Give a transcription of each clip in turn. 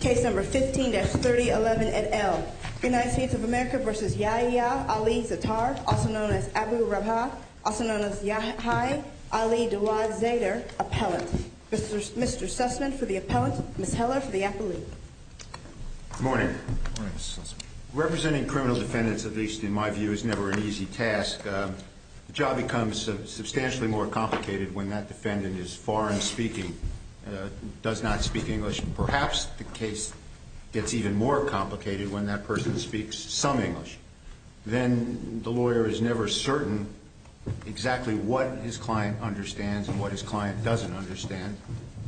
Case number 15-3011 et al. United States of America v. Yahya Ali Zaitar, also known as Abu Rabha, also known as Yahya Ali Dawad Zaidar, appellant. Mr. Sussman for the appellant, Ms. Heller for the appellate. Good morning. Good morning, Mr. Sussman. Representing criminal defendants, at least in my view, is never an easy task. The job becomes substantially more complicated when that defendant is foreign speaking, does not speak English, and perhaps the case gets even more complicated when that person speaks some English. Then the lawyer is never certain exactly what his client understands and what his client doesn't understand.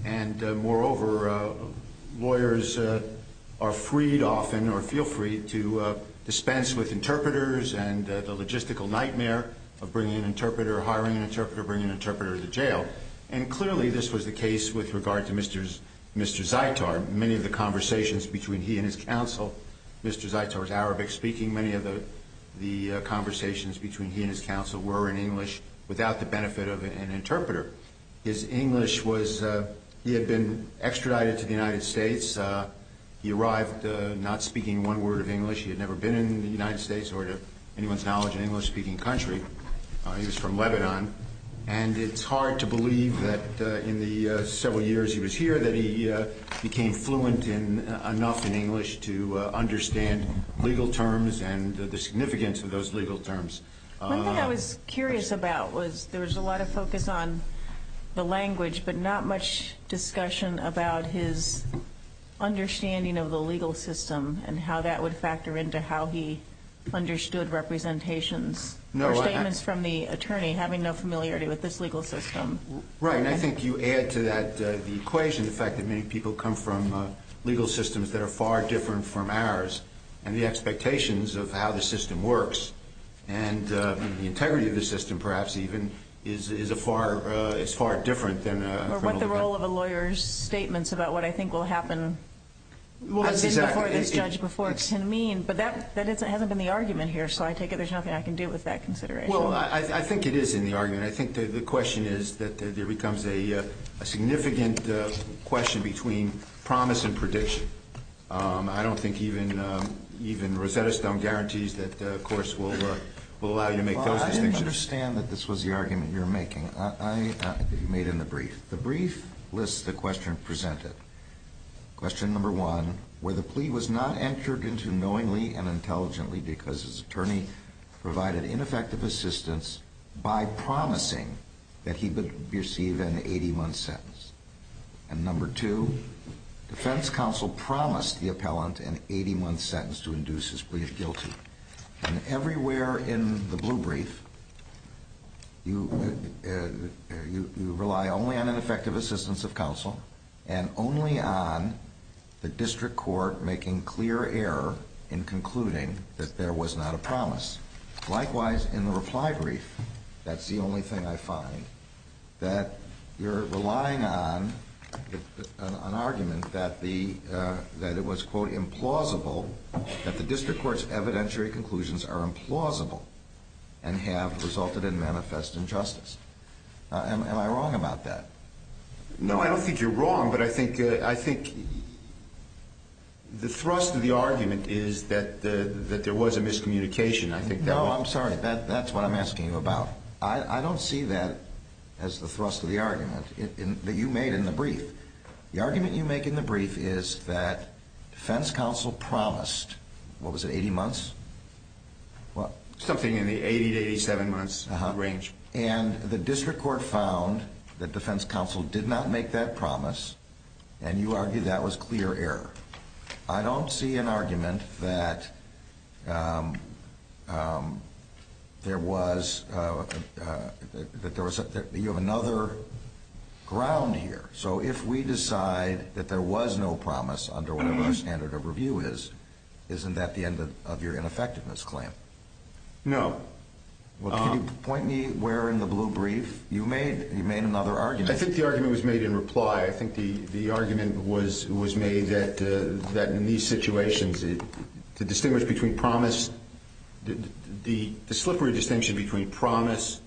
And moreover, lawyers are freed often, or feel free, to dispense with interpreters and the logistical nightmare of bringing an interpreter, hiring an interpreter, bringing an interpreter to jail. And clearly this was the case with regard to Mr. Zaitar. Many of the conversations between he and his counsel, Mr. Zaitar was Arabic speaking, many of the conversations between he and his counsel were in English without the benefit of an interpreter. His English was – he had been extradited to the United States. He arrived not speaking one word of English. He had never been in the United States or to anyone's knowledge an English-speaking country. He was from Lebanon. And it's hard to believe that in the several years he was here that he became fluent enough in English to understand legal terms and the significance of those legal terms. One thing I was curious about was there was a lot of focus on the language but not much discussion about his understanding of the legal system and how that would factor into how he understood representations or statements from the attorney having no familiarity with this legal system. Right, and I think you add to that the equation, the fact that many people come from legal systems that are far different from ours and the expectations of how the system works. And the integrity of the system, perhaps even, is a far – is far different than a criminal defense. Or what the role of a lawyer's statements about what I think will happen has been before this judge before can mean. But that hasn't been the argument here, so I take it there's nothing I can do with that consideration. Well, I think it is in the argument. I think the question is that there becomes a significant question between promise and prediction. I don't think even Rosetta Stone guarantees that, of course, we'll allow you to make those distinctions. Well, I understand that this was the argument you're making. I – that you made in the brief. The brief lists the question presented. Question number one, where the plea was not entered into knowingly and intelligently because his attorney provided ineffective assistance by promising that he would receive an 81 sentence. And number two, defense counsel promised the appellant an 81 sentence to induce his brief guilty. And everywhere in the blue brief, you rely only on ineffective assistance of counsel and only on the district court making clear error in concluding that there was not a promise. Likewise, in the reply brief, that's the only thing I find, that you're relying on an argument that the – that it was, quote, implausible, that the district court's evidentiary conclusions are implausible and have resulted in manifest injustice. Am I wrong about that? No, I don't think you're wrong, but I think – I think the thrust of the argument is that there was a miscommunication. I think that was – No, I'm sorry. That's what I'm asking you about. I don't see that as the thrust of the argument that you made in the brief. The argument you make in the brief is that defense counsel promised – what was it, 80 months? Something in the 80 to 87 months range. And the district court found that defense counsel did not make that promise, and you argue that was clear error. I don't see an argument that there was – that there was – you have another ground here. So if we decide that there was no promise under whatever our standard of review is, isn't that the end of your ineffectiveness claim? No. Well, can you point me where in the blue brief you made another argument? I think the argument was made in reply. I think the argument was made that in these situations, to distinguish between promise – the slippery distinction between promise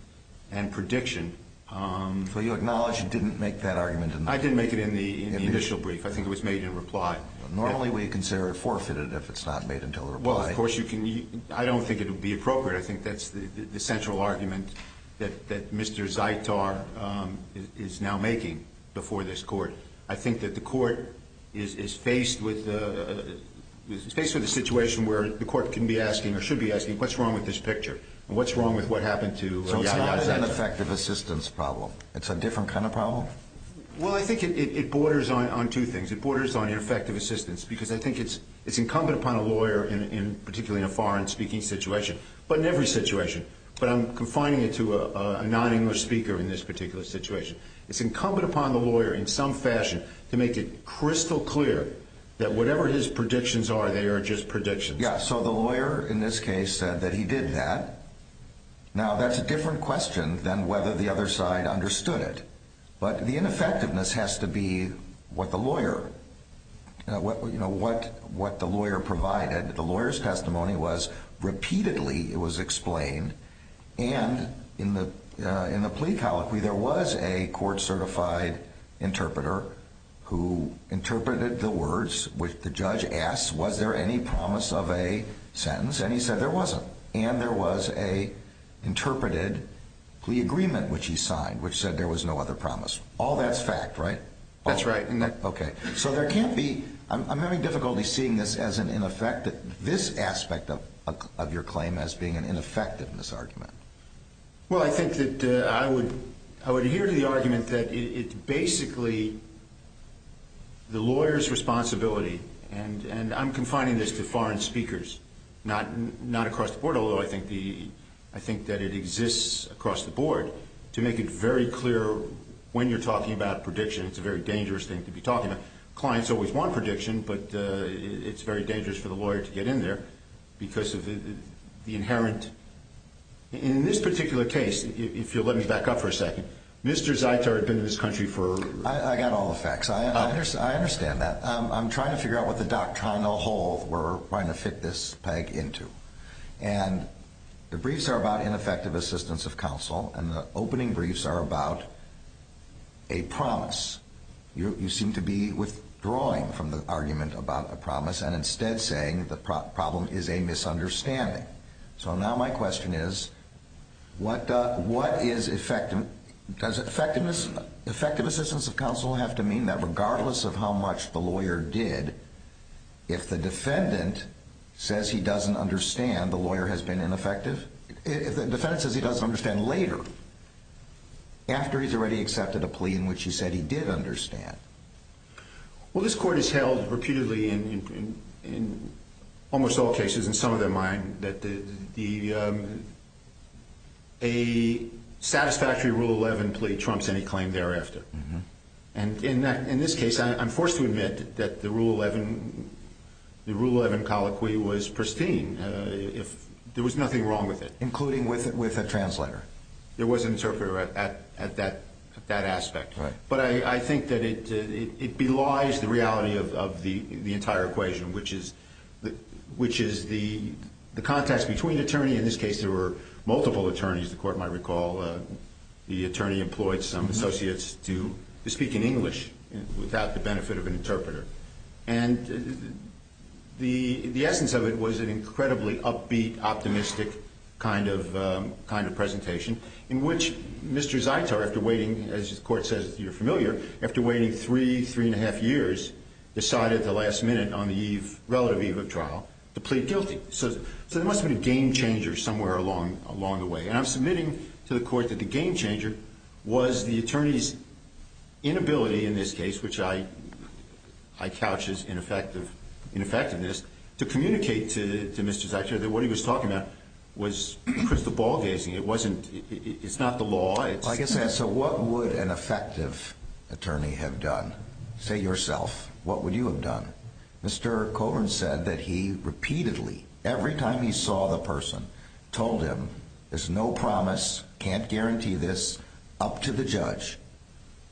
and prediction – So you acknowledge you didn't make that argument in the – I didn't make it in the initial brief. I think it was made in reply. Normally we consider it forfeited if it's not made until a reply. I don't think it would be appropriate. I think that's the central argument that Mr. Zaitar is now making before this court. I think that the court is faced with a situation where the court can be asking or should be asking, what's wrong with this picture? And what's wrong with what happened to – So it's not an ineffective assistance problem. It's a different kind of problem? Well, I think it borders on two things. It borders on ineffective assistance because I think it's incumbent upon a lawyer, particularly in a foreign-speaking situation, but in every situation. But I'm confining it to a non-English speaker in this particular situation. It's incumbent upon the lawyer in some fashion to make it crystal clear that whatever his predictions are, they are just predictions. Yeah, so the lawyer in this case said that he did that. Now, that's a different question than whether the other side understood it. But the ineffectiveness has to be what the lawyer provided. The lawyer's testimony was repeatedly it was explained. And in the plea colloquy, there was a court-certified interpreter who interpreted the words. The judge asked, was there any promise of a sentence? And he said there wasn't. And there was an interpreted plea agreement, which he signed, which said there was no other promise. All that's fact, right? That's right. Okay. So there can't be – I'm having difficulty seeing this as an ineffective – this aspect of your claim as being an ineffectiveness argument. Well, I think that I would adhere to the argument that it's basically the lawyer's responsibility – and I'm confining this to foreign speakers, not across the board, although I think that it exists across the board – to make it very clear when you're talking about predictions, it's a very dangerous thing to be talking about. Clients always want prediction, but it's very dangerous for the lawyer to get in there because of the inherent – in this particular case, if you'll let me back up for a second, Mr. Zaiter had been in this country for – I got all the facts. I understand that. I'm trying to figure out what the doctrinal hole we're trying to fit this peg into. And the briefs are about ineffective assistance of counsel, and the opening briefs are about a promise. You seem to be withdrawing from the argument about a promise and instead saying the problem is a misunderstanding. So now my question is, what is – does effective assistance of counsel have to mean that regardless of how much the lawyer did, if the defendant says he doesn't understand, the lawyer has been ineffective? If the defendant says he doesn't understand later, after he's already accepted a plea in which he said he did understand. Well, this Court has held reputedly in almost all cases, in some of them mine, that a satisfactory Rule 11 plea trumps any claim thereafter. And in this case, I'm forced to admit that the Rule 11 colloquy was pristine. There was nothing wrong with it. Including with a translator. There was an interpreter at that aspect. But I think that it belies the reality of the entire equation, which is the context between attorney – there were multiple attorneys, the Court might recall. The attorney employed some associates to speak in English without the benefit of an interpreter. And the essence of it was an incredibly upbeat, optimistic kind of presentation, in which Mr. Zaitar, after waiting – as the Court says, you're familiar – after waiting three, three and a half years, decided at the last minute on the relative eve of trial to plead guilty. So there must have been a game-changer somewhere along the way. And I'm submitting to the Court that the game-changer was the attorney's inability in this case, which I couch as ineffectiveness, to communicate to Mr. Zaitar that what he was talking about was crystal ball gazing. It wasn't – it's not the law. So what would an effective attorney have done? Say yourself, what would you have done? Mr. Colburn said that he repeatedly, every time he saw the person, told him, there's no promise, can't guarantee this, up to the judge.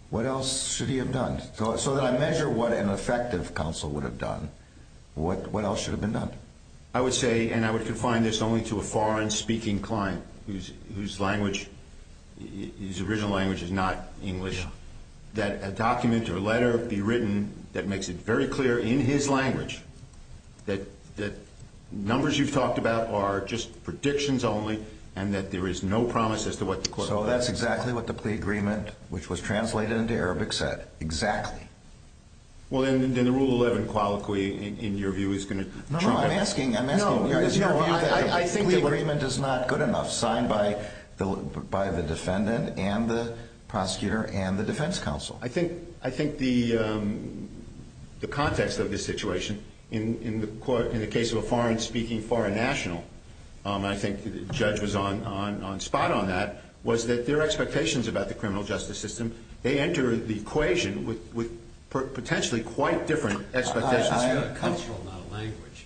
What else should he have done? So that I measure what an effective counsel would have done, what else should have been done? I would say, and I would confine this only to a foreign-speaking client whose language – his original language is not English – that a document or a letter be written that makes it very clear in his language that numbers you've talked about are just predictions only and that there is no promise as to what the court will do. So that's exactly what the plea agreement, which was translated into Arabic, said. Exactly. Well, then the Rule 11 Qualiqui, in your view, is going to – No, no, I'm asking – I'm asking – I think the plea agreement is not good enough, signed by the defendant and the prosecutor and the defense counsel. I think the context of this situation, in the case of a foreign-speaking foreign national, and I think the judge was on spot on that, was that their expectations about the criminal justice system, they enter the equation with potentially quite different expectations. It's a cultural, not a language,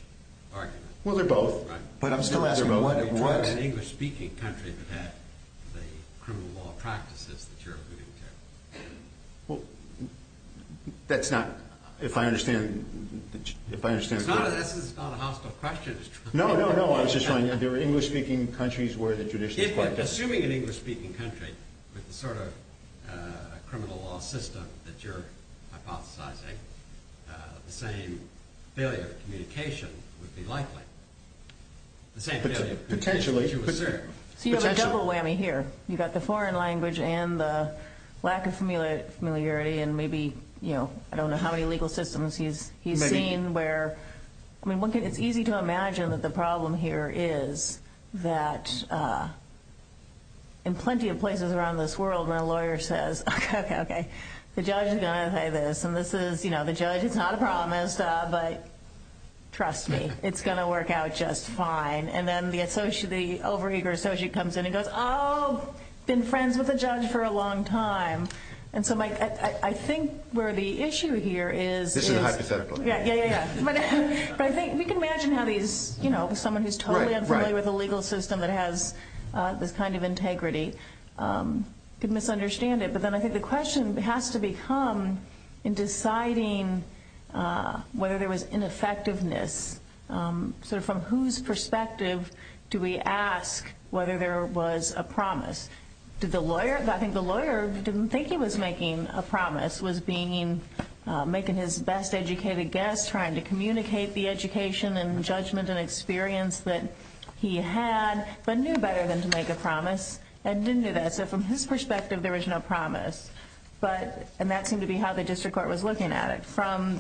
argument. Well, they're both, but I'm still asking what – You're talking about an English-speaking country that had the criminal law practices that you're alluding to. Well, that's not – if I understand – This is not a hostile question. No, no, no, I was just trying – there were English-speaking countries where the judicial – Assuming an English-speaking country with the sort of criminal law system that you're hypothesizing, the same failure of communication would be likely. Potentially. So you have a double whammy here. You've got the foreign language and the lack of familiarity and maybe, you know, I don't know how many legal systems he's seen where – I mean, it's easy to imagine that the problem here is that in plenty of places around this world, when a lawyer says, okay, okay, the judge is going to say this, and this is, you know, the judge, it's not a promise, but trust me, it's going to work out just fine. And then the over-eager associate comes in and goes, oh, been friends with the judge for a long time. And so I think where the issue here is – This is hypothetical. Yeah, yeah, yeah, yeah. But I think we can imagine how these, you know, someone who's totally unfamiliar with the legal system that has this kind of integrity could misunderstand it. But then I think the question has to become in deciding whether there was ineffectiveness, sort of from whose perspective do we ask whether there was a promise. Did the lawyer – I think the lawyer didn't think he was making a promise, was being – making his best educated guess, trying to communicate the education and judgment and experience that he had, but knew better than to make a promise and didn't do that. So from his perspective, there was no promise. But – and that seemed to be how the district court was looking at it. From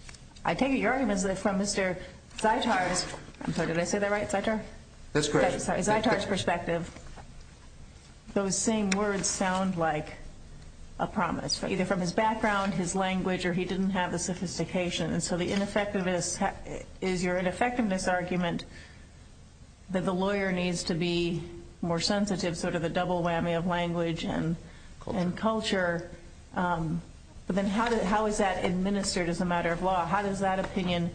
– I take it your argument is that from Mr. Zeitar's – I'm sorry, did I say that right, Zeitar? That's correct. From Mr. Zeitar's perspective, those same words sound like a promise, either from his background, his language, or he didn't have the sophistication. And so the ineffectiveness – is your ineffectiveness argument that the lawyer needs to be more sensitive, sort of a double whammy of language and culture? But then how is that administered as a matter of law? How does that opinion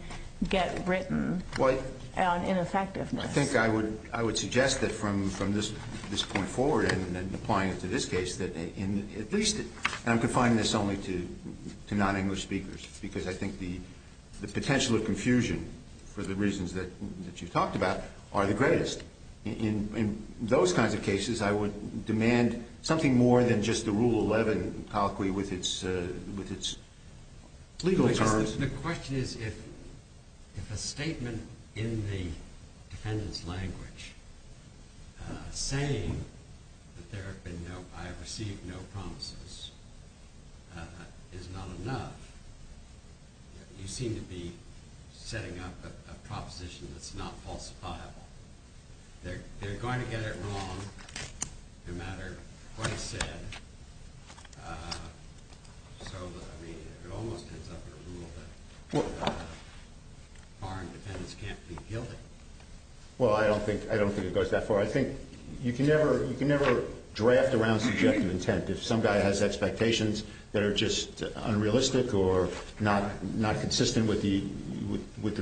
get written on ineffectiveness? I think I would suggest that from this point forward and applying it to this case, that at least – and I'm confining this only to non-English speakers, because I think the potential of confusion, for the reasons that you've talked about, are the greatest. In those kinds of cases, I would demand something more than just the Rule 11 colloquy with its legal terms. The question is if a statement in the defendant's language saying that I have received no promises is not enough, you seem to be setting up a proposition that's not falsifiable. They're going to get it wrong no matter what it's said. So, I mean, it almost ends up in a rule that foreign defendants can't be guilty. Well, I don't think it goes that far. I think you can never draft around subjective intent if some guy has expectations that are just unrealistic or not consistent with the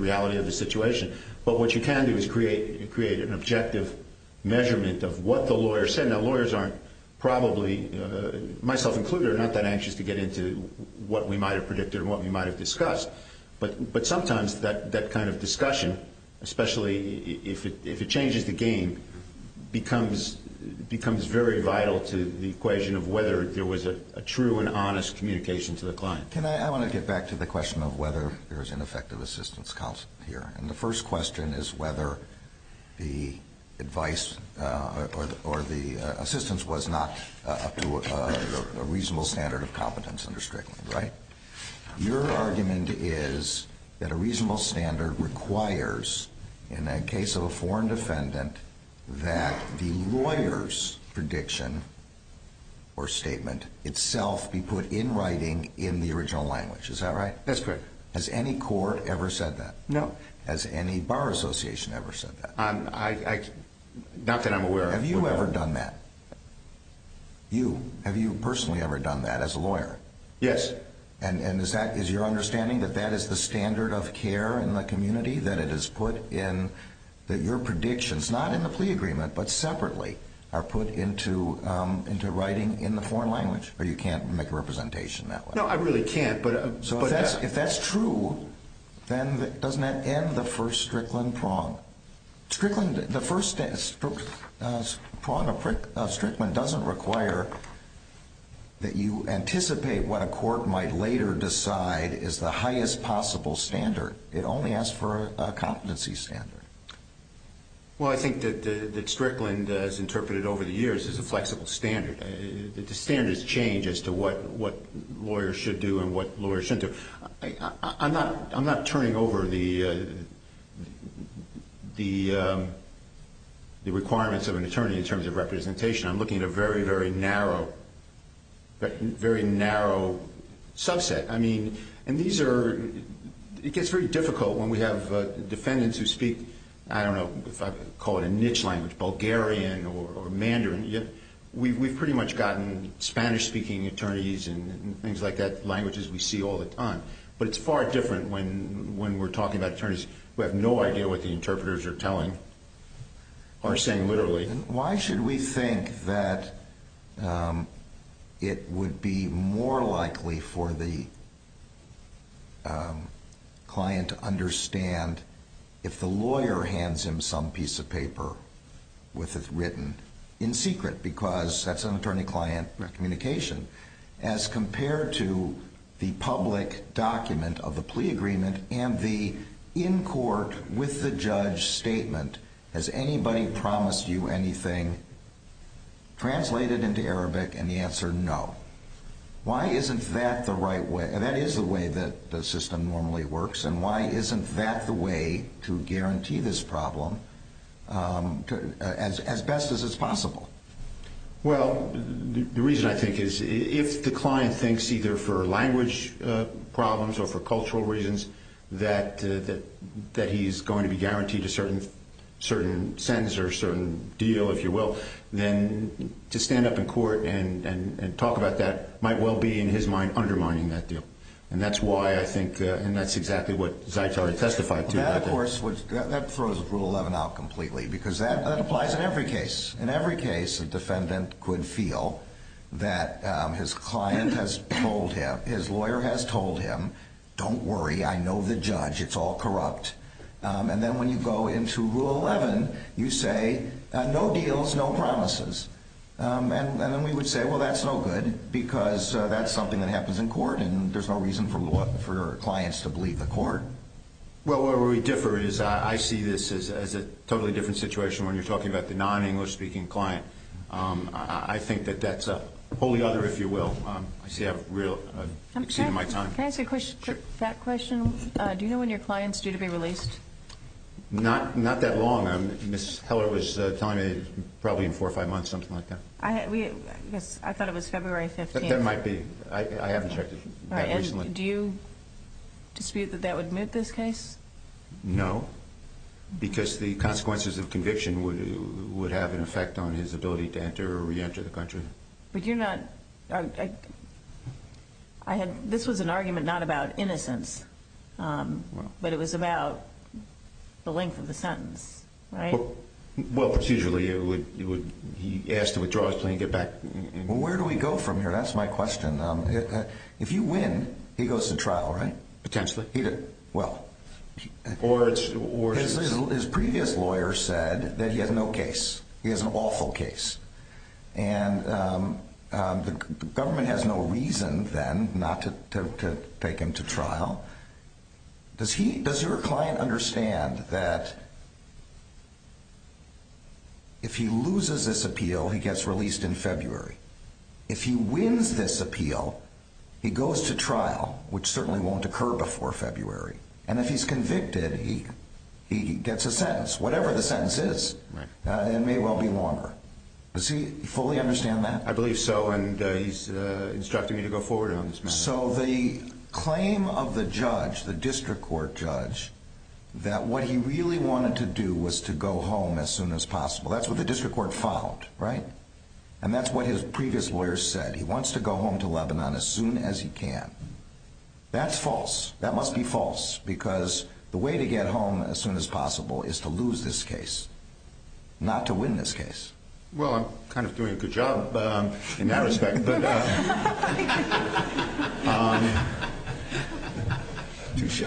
reality of the situation. But what you can do is create an objective measurement of what the lawyer said. Now, lawyers aren't probably, myself included, are not that anxious to get into what we might have predicted or what we might have discussed. But sometimes that kind of discussion, especially if it changes the game, becomes very vital to the equation of whether there was a true and honest communication to the client. I want to get back to the question of whether there is an effective assistance counsel here. And the first question is whether the advice or the assistance was not up to a reasonable standard of competence under Strickland, right? Your argument is that a reasonable standard requires, in the case of a foreign defendant, that the lawyer's prediction or statement itself be put in writing in the original language. Is that right? That's correct. Has any court ever said that? No. Has any bar association ever said that? Not that I'm aware of. Have you ever done that? You. Have you personally ever done that as a lawyer? Yes. And is your understanding that that is the standard of care in the community, that your predictions, not in the plea agreement but separately, are put into writing in the foreign language? Or you can't make a representation that way? No, I really can't. So if that's true, then doesn't that end the first Strickland prong? The first prong of Strickland doesn't require that you anticipate what a court might later decide is the highest possible standard. It only asks for a competency standard. Well, I think that Strickland has interpreted over the years as a flexible standard. The standards change as to what lawyers should do and what lawyers shouldn't do. I'm not turning over the requirements of an attorney in terms of representation. I'm looking at a very, very narrow subset. I mean, it gets very difficult when we have defendants who speak, I don't know if I can call it a niche language, Bulgarian or Mandarin. We've pretty much gotten Spanish-speaking attorneys and things like that, languages we see all the time. But it's far different when we're talking about attorneys who have no idea what the interpreters are telling or saying literally. Why should we think that it would be more likely for the client to understand if the lawyer hands him some piece of paper with it written in secret because that's an attorney-client communication as compared to the public document of the plea agreement and the in court with the judge statement. Has anybody promised you anything? Translated into Arabic and the answer, no. Why isn't that the right way? That is the way that the system normally works. And why isn't that the way to guarantee this problem as best as is possible? Well, the reason I think is if the client thinks either for language problems or for cultural reasons that he's going to be guaranteed a certain sentence or a certain deal, if you will, then to stand up in court and talk about that might well be in his mind undermining that deal. And that's why I think that's exactly what Zaitari testified to. That, of course, throws Rule 11 out completely because that applies in every case. In every case a defendant could feel that his client has told him, his lawyer has told him, don't worry, I know the judge, it's all corrupt. And then when you go into Rule 11, you say no deals, no promises. And then we would say, well, that's no good because that's something that happens in court and there's no reason for clients to believe the court. Well, where we differ is I see this as a totally different situation when you're talking about the non-English speaking client. I think that that's a wholly other, if you will. I see I've exceeded my time. Can I ask a question? Sure. That question, do you know when your client's due to be released? Not that long. Ms. Heller was telling me probably in four or five months, something like that. I thought it was February 15th. That might be. I haven't checked it that recently. Do you dispute that that would moot this case? No, because the consequences of conviction would have an effect on his ability to enter or reenter the country. But you're not, I had, this was an argument not about innocence, but it was about the length of the sentence, right? Well, procedurally it would, he asked to withdraw his claim and get back. Where do we go from here? That's my question. If you win, he goes to trial, right? Potentially. Well, his previous lawyer said that he has no case. He has an awful case. Does he, does your client understand that if he loses this appeal, he gets released in February? If he wins this appeal, he goes to trial, which certainly won't occur before February. And if he's convicted, he gets a sentence, whatever the sentence is. It may well be longer. Does he fully understand that? I believe so, and he's instructing me to go forward on this matter. So the claim of the judge, the district court judge, that what he really wanted to do was to go home as soon as possible, that's what the district court followed, right? And that's what his previous lawyer said. He wants to go home to Lebanon as soon as he can. That's false. That must be false because the way to get home as soon as possible is to lose this case, not to win this case. Well, I'm kind of doing a good job in that respect. Touche.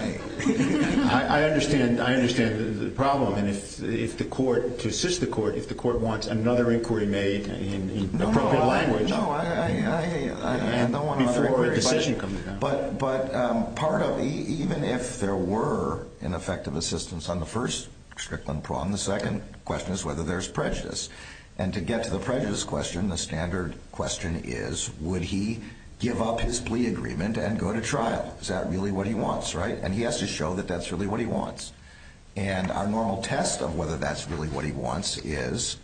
I understand, I understand the problem. And if the court, to assist the court, if the court wants another inquiry made in appropriate language before a decision comes down. But part of, even if there were an effective assistance on the first, Strickland-Prawn, the second question is whether there's prejudice. And to get to the prejudice question, the standard question is, would he give up his plea agreement and go to trial? Is that really what he wants, right? And he has to show that that's really what he wants. And our normal test of whether that's really what he wants is,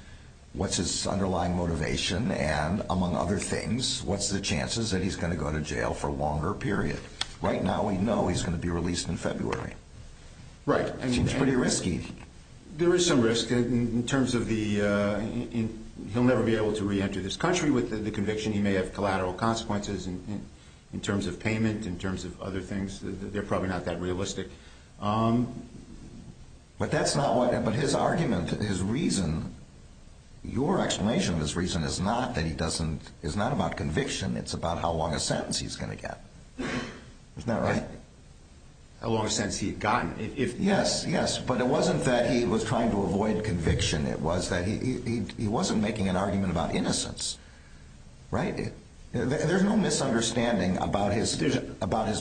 what's his underlying motivation? And among other things, what's the chances that he's going to go to jail for a longer period? Right now we know he's going to be released in February. Right. Seems pretty risky. There is some risk in terms of the, he'll never be able to reenter this country with the conviction. He may have collateral consequences in terms of payment, in terms of other things. They're probably not that realistic. But that's not what, but his argument, his reason, your explanation of his reason is not that he doesn't, is not about conviction. It's about how long a sentence he's going to get. Isn't that right? How long a sentence he had gotten. Yes, yes. But it wasn't that he was trying to avoid conviction. It was that he wasn't making an argument about innocence. Right? There's no misunderstanding about his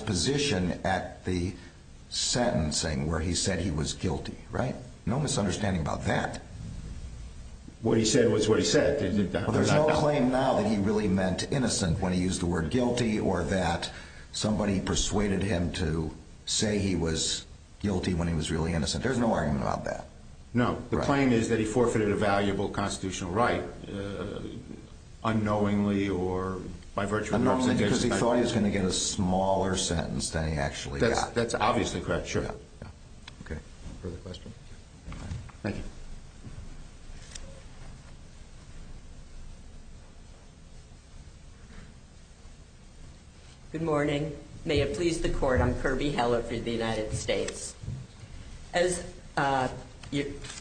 position at the sentencing where he said he was guilty. Right? No misunderstanding about that. What he said was what he said. There's no claim now that he really meant innocent when he used the word guilty, or that somebody persuaded him to say he was guilty when he was really innocent. There's no argument about that. No. The claim is that he forfeited a valuable constitutional right unknowingly or by virtue of the representation. Unknowingly because he thought he was going to get a smaller sentence than he actually got. That's obviously correct. Sure. Okay. Further questions? Thank you. Good morning. May it please the court, I'm Kirby Heller for the United States. As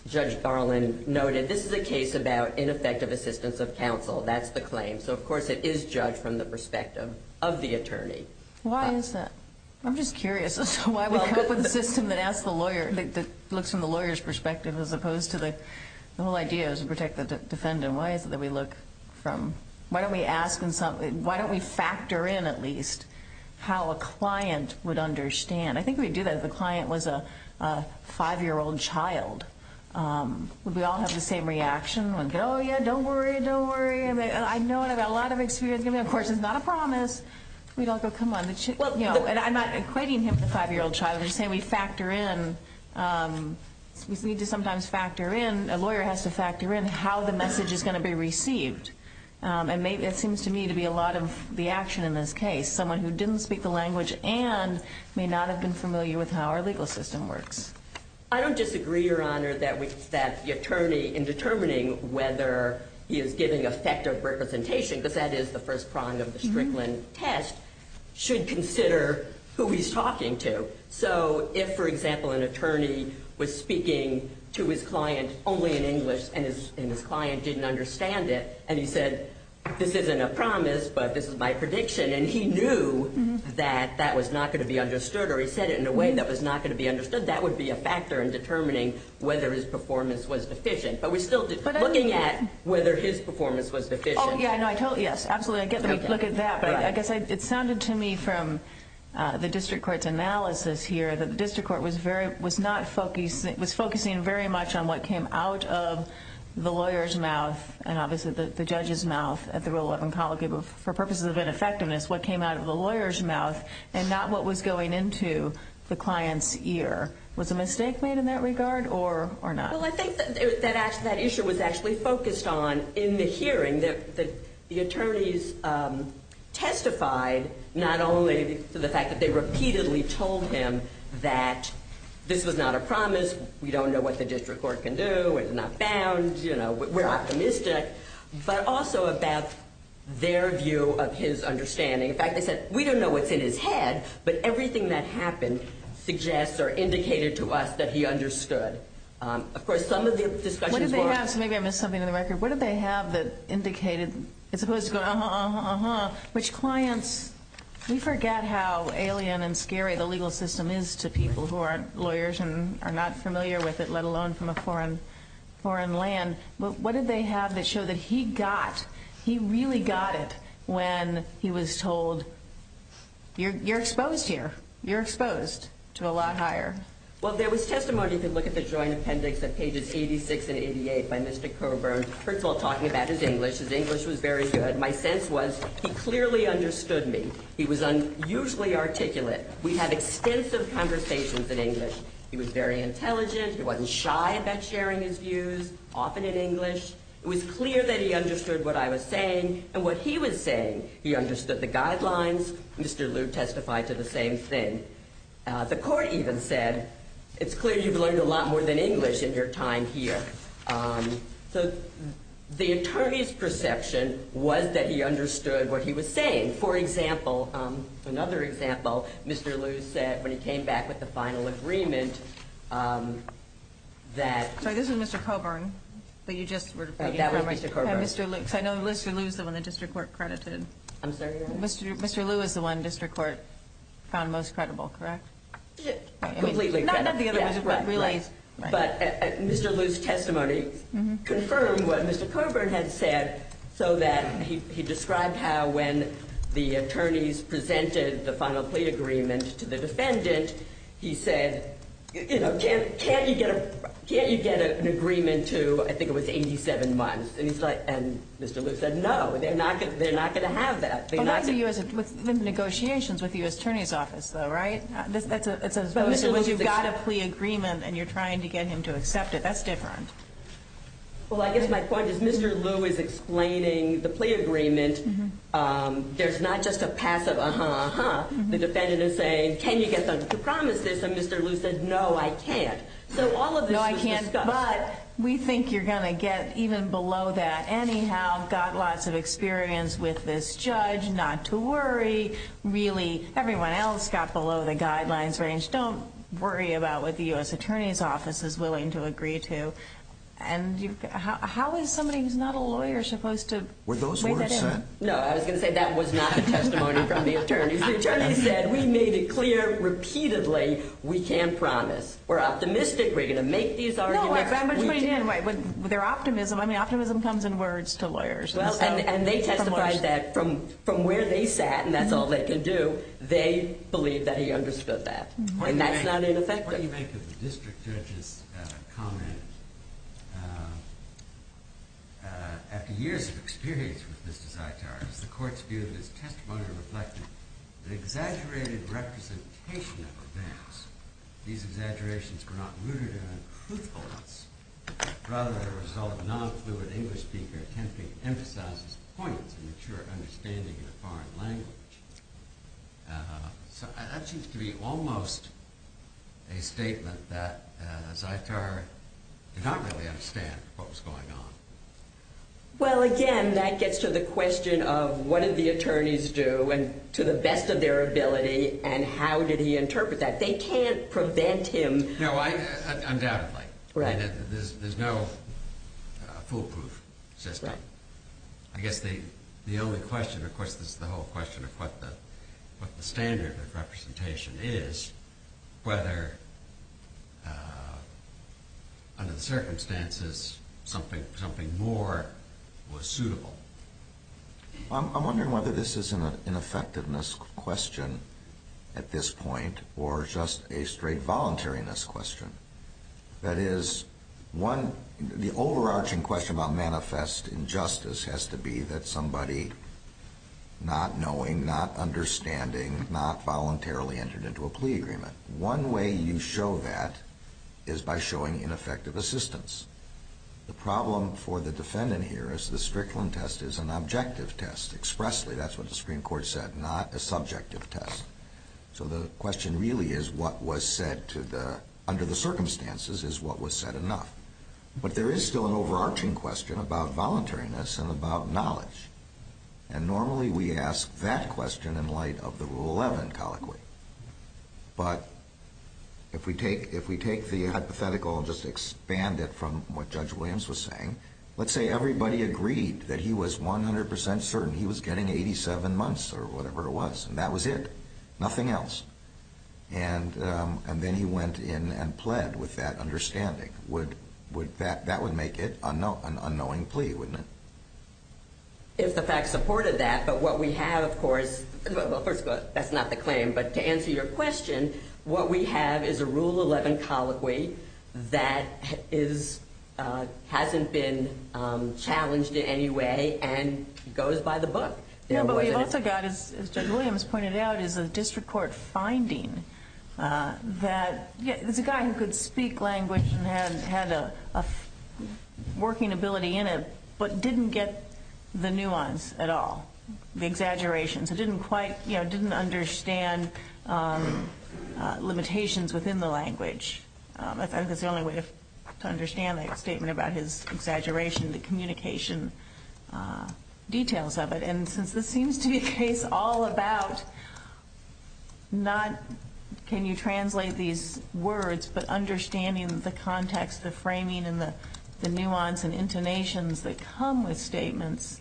Judge Garland noted, this is a case about ineffective assistance of counsel. That's the claim. So, of course, it is judged from the perspective of the attorney. Why is that? I'm just curious as to why we come up with a system that looks from the lawyer's perspective as opposed to the whole idea is to protect the defendant. Why is it that we look from, why don't we factor in at least how a client would understand? I think we do that if the client was a five-year-old child. Would we all have the same reaction? Oh, yeah, don't worry, don't worry. I know and I've got a lot of experience. Of course, it's not a promise. We don't go, come on. I'm not equating him with a five-year-old child. I'm just saying we factor in. We need to sometimes factor in. A lawyer has to factor in how the message is going to be received. It seems to me to be a lot of the action in this case. Someone who didn't speak the language and may not have been familiar with how our legal system works. I don't disagree, Your Honor, that the attorney in determining whether he is giving effective representation, because that is the first prong of the Strickland test, should consider who he's talking to. So if, for example, an attorney was speaking to his client only in English and his client didn't understand it, and he said, this isn't a promise, but this is my prediction, and he knew that that was not going to be understood or he said it in a way that was not going to be understood, that would be a factor in determining whether his performance was deficient. But we're still looking at whether his performance was deficient. Oh, yeah, no, I totally, yes, absolutely. I get the look at that, but I guess it sounded to me from the district court's analysis here that the district court was focusing very much on what came out of the lawyer's mouth and obviously the judge's mouth at the Rule 11 College for purposes of ineffectiveness, what came out of the lawyer's mouth and not what was going into the client's ear. Was a mistake made in that regard or not? Well, I think that issue was actually focused on in the hearing that the attorneys testified not only to the fact that they repeatedly told him that this was not a promise, we don't know what the district court can do, it's not bound, you know, we're optimistic, but also about their view of his understanding. In fact, they said, we don't know what's in his head, but everything that happened suggests or indicated to us that he understood. Of course, some of the discussions were— What did they have? Maybe I missed something in the record. What did they have that indicated, as opposed to going, uh-huh, uh-huh, uh-huh, which clients, we forget how alien and scary the legal system is to people who aren't lawyers and are not familiar with it, let alone from a foreign land, what did they have that showed that he got, he really got it when he was told, you're exposed here, you're exposed to a lot higher. Well, there was testimony, if you look at the joint appendix at pages 86 and 88 by Mr. Coburn, first of all, talking about his English. His English was very good. My sense was he clearly understood me. He was unusually articulate. We have extensive conversations in English. He was very intelligent. He wasn't shy about sharing his views, often in English. It was clear that he understood what I was saying and what he was saying. He understood the guidelines. Mr. Lew testified to the same thing. The court even said, it's clear you've learned a lot more than English in your time here. So the attorney's perception was that he understood what he was saying. For example, another example, Mr. Lew said when he came back with the final agreement that Sorry, this is Mr. Coburn, but you just were That was Mr. Coburn. Mr. Lew, because I know Mr. Lew is the one the district court credited. I'm sorry? Mr. Lew is the one district court found most credible, correct? Completely. Not the other ones, but really But Mr. Lew's testimony confirmed what Mr. Coburn had said, so that he described how when the attorneys presented the final plea agreement to the defendant, he said, can't you get an agreement to, I think it was 87 months? And Mr. Lew said, no, they're not going to have that. The negotiations with the U.S. Attorney's Office, though, right? It's as though you've got a plea agreement and you're trying to get him to accept it. That's different. Well, I guess my point is Mr. Lew is explaining the plea agreement. There's not just a passive, uh-huh, uh-huh. The defendant is saying, can you get them to promise this? And Mr. Lew said, no, I can't. So all of this was discussed. No, I can't. But we think you're going to get even below that. Anyhow, got lots of experience with this judge, not to worry. Really, everyone else got below the guidelines range. Don't worry about what the U.S. Attorney's Office is willing to agree to. And how is somebody who's not a lawyer supposed to weigh that in? Were those words said? No, I was going to say that was not a testimony from the attorneys. The attorneys said, we made it clear repeatedly we can't promise. We're optimistic we're going to make these arguments. No, I'm just putting it in. Their optimism, I mean, optimism comes in words to lawyers. Well, and they testified that from where they sat, and that's all they can do, they believe that he understood that. And that's not ineffective. What do you make of the district judge's comment? After years of experience with this desire to argue, does the court's view of this testimony reflect an exaggerated representation of events? These exaggerations were not rooted in a truthfulness. Rather, as a result, a non-fluid English speaker can't be emphasized as a point to mature understanding in a foreign language. So that seems to be almost a statement that, as I've heard, did not really understand what was going on. Well, again, that gets to the question of what did the attorneys do and to the best of their ability, and how did he interpret that? They can't prevent him. No, undoubtedly. There's no foolproof system. I guess the only question, of course, is the whole question of what the standard of representation is, whether under the circumstances something more was suitable. I'm wondering whether this is an effectiveness question at this point or just a straight voluntariness question. That is, the overarching question about manifest injustice has to be that somebody not knowing, not understanding, not voluntarily entered into a plea agreement. One way you show that is by showing ineffective assistance. The problem for the defendant here is the Strickland test is an objective test, expressly. That's what the Supreme Court said, not a subjective test. So the question really is what was said under the circumstances is what was said enough. But there is still an overarching question about voluntariness and about knowledge, and normally we ask that question in light of the Rule 11 colloquy. But if we take the hypothetical and just expand it from what Judge Williams was saying, let's say everybody agreed that he was 100% certain he was getting 87 months or whatever it was, and that was it, nothing else. And then he went in and pled with that understanding. That would make it an unknowing plea, wouldn't it? If the fact supported that, but what we have, of course, well, first of all, that's not the claim. But to answer your question, what we have is a Rule 11 colloquy that hasn't been challenged in any way and goes by the book. No, but we've also got, as Judge Williams pointed out, is a district court finding that there's a guy who could speak language and had a working ability in it, but didn't get the nuance at all, the exaggerations. He didn't quite, you know, didn't understand limitations within the language. I think that's the only way to understand a statement about his exaggeration, the communication details of it. And since this seems to be a case all about not can you translate these words, but understanding the context, the framing, and the nuance and intonations that come with statements,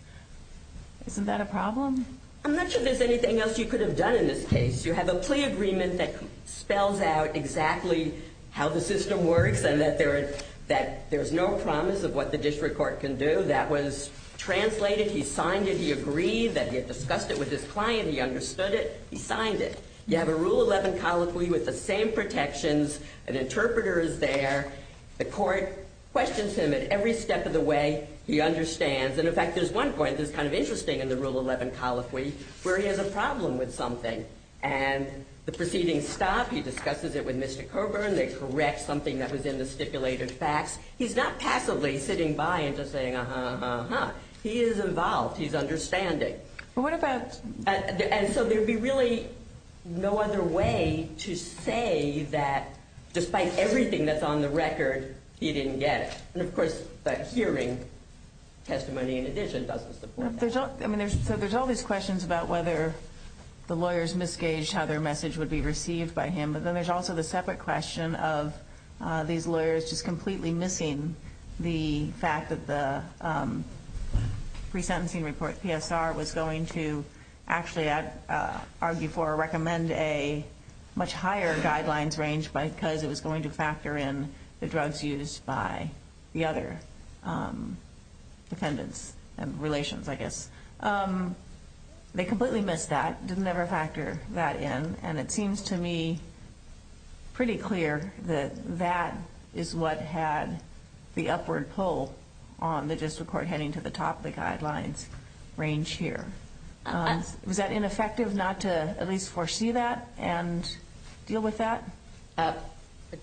isn't that a problem? I'm not sure there's anything else you could have done in this case. You have a plea agreement that spells out exactly how the system works and that there's no promise of what the district court can do. That was translated. He signed it. He agreed that he had discussed it with his client. He understood it. He signed it. You have a Rule 11 colloquy with the same protections. An interpreter is there. The court questions him at every step of the way. He understands. And, in fact, there's one point that's kind of interesting in the Rule 11 colloquy, where he has a problem with something. And the proceedings stop. He discusses it with Mr. Coburn. They correct something that was in the stipulated facts. He's not passively sitting by and just saying, uh-huh, uh-huh, uh-huh. He is involved. He's understanding. And so there would be really no other way to say that, despite everything that's on the record, he didn't get it. And, of course, that hearing testimony in addition doesn't support that. So there's all these questions about whether the lawyers misgaged how their message would be received by him. Then there's also the separate question of these lawyers just completely missing the fact that the pre-sentencing report, PSR, was going to actually argue for or recommend a much higher guidelines range because it was going to factor in the drugs used by the other defendants and relations, I guess. They completely missed that, didn't ever factor that in. And it seems to me pretty clear that that is what had the upward pull on the district court heading to the top of the guidelines range here. Was that ineffective not to at least foresee that and deal with that?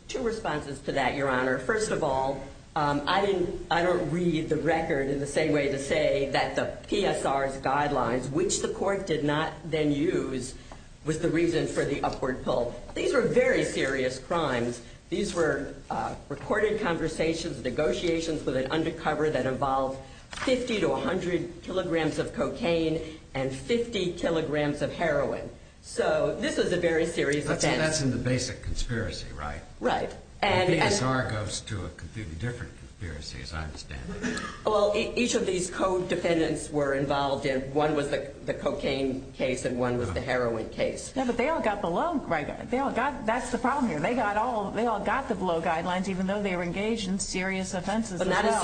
Two responses to that, Your Honor. First of all, I don't read the record in the same way to say that the PSR's guidelines, which the court did not then use, was the reason for the upward pull. These were very serious crimes. These were recorded conversations, negotiations with an undercover that involved 50 to 100 kilograms of cocaine and 50 kilograms of heroin. So this is a very serious offense. That's in the basic conspiracy, right? Right. The PSR goes to a completely different conspiracy, as I understand it. Well, each of these co-defendants were involved in one was the cocaine case and one was the heroin case. Yeah, but they all got the low guidelines. That's the problem here. They all got the low guidelines even though they were engaged in serious offenses as well. But not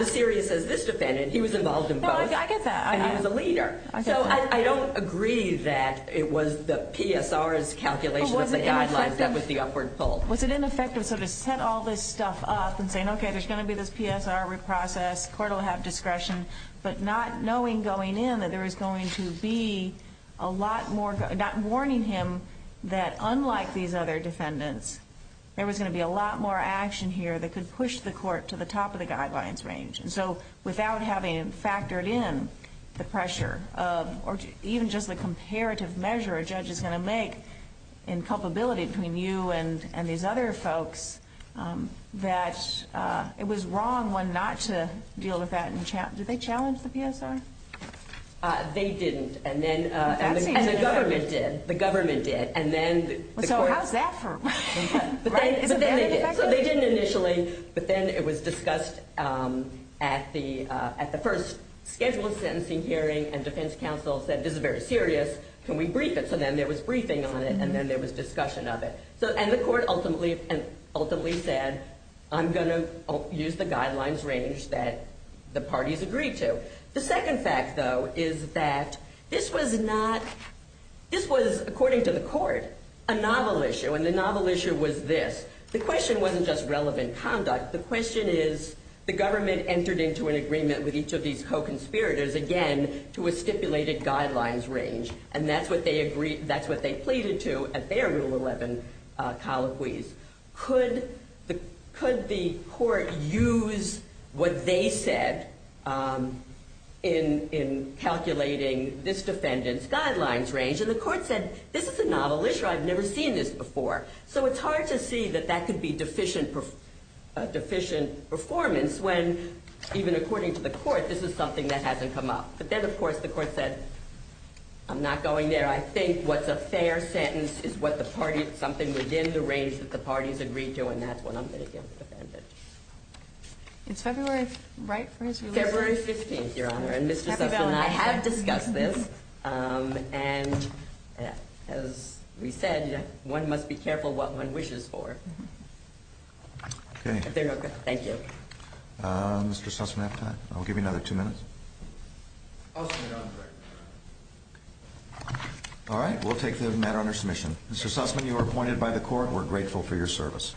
as serious as this defendant. He was involved in both. I get that. And he was a leader. So I don't agree that it was the PSR's calculation of the guidelines that was the upward pull. Was it ineffective to sort of set all this stuff up and saying, okay, there's going to be this PSR reprocess, court will have discretion, but not knowing going in that there was going to be a lot more, not warning him that unlike these other defendants, there was going to be a lot more action here that could push the court to the top of the guidelines range. So without having factored in the pressure or even just the comparative measure a judge is going to make in culpability between you and these other folks that it was wrong one not to deal with that. Did they challenge the PSR? They didn't. And then the government did. The government did. So how's that for? So they didn't initially, but then it was discussed at the first scheduled sentencing hearing and defense counsel said this is very serious, can we brief it? So then there was briefing on it and then there was discussion of it. And the court ultimately said, I'm going to use the guidelines range that the parties agreed to. The second fact, though, is that this was not, this was, according to the court, a novel issue. And the novel issue was this. The question wasn't just relevant conduct. The question is the government entered into an agreement with each of these co-conspirators, again, to a stipulated guidelines range. And that's what they agreed, that's what they pleaded to at their Rule 11 colloquies. Could the court use what they said in calculating this defendant's guidelines range? And the court said, this is a novel issue, I've never seen this before. So it's hard to see that that could be deficient performance when, even according to the court, this is something that hasn't come up. But then, of course, the court said, I'm not going there. I think what's a fair sentence is something within the range that the parties agreed to and that's what I'm going to give the defendant. It's February, right? February 15th, Your Honor. And Mr. Sussman, I have discussed this. And as we said, one must be careful what one wishes for. Thank you. Mr. Sussman, I'll give you another two minutes. All right, we'll take the matter under submission. Mr. Sussman, you are appointed by the court. We're grateful for your service.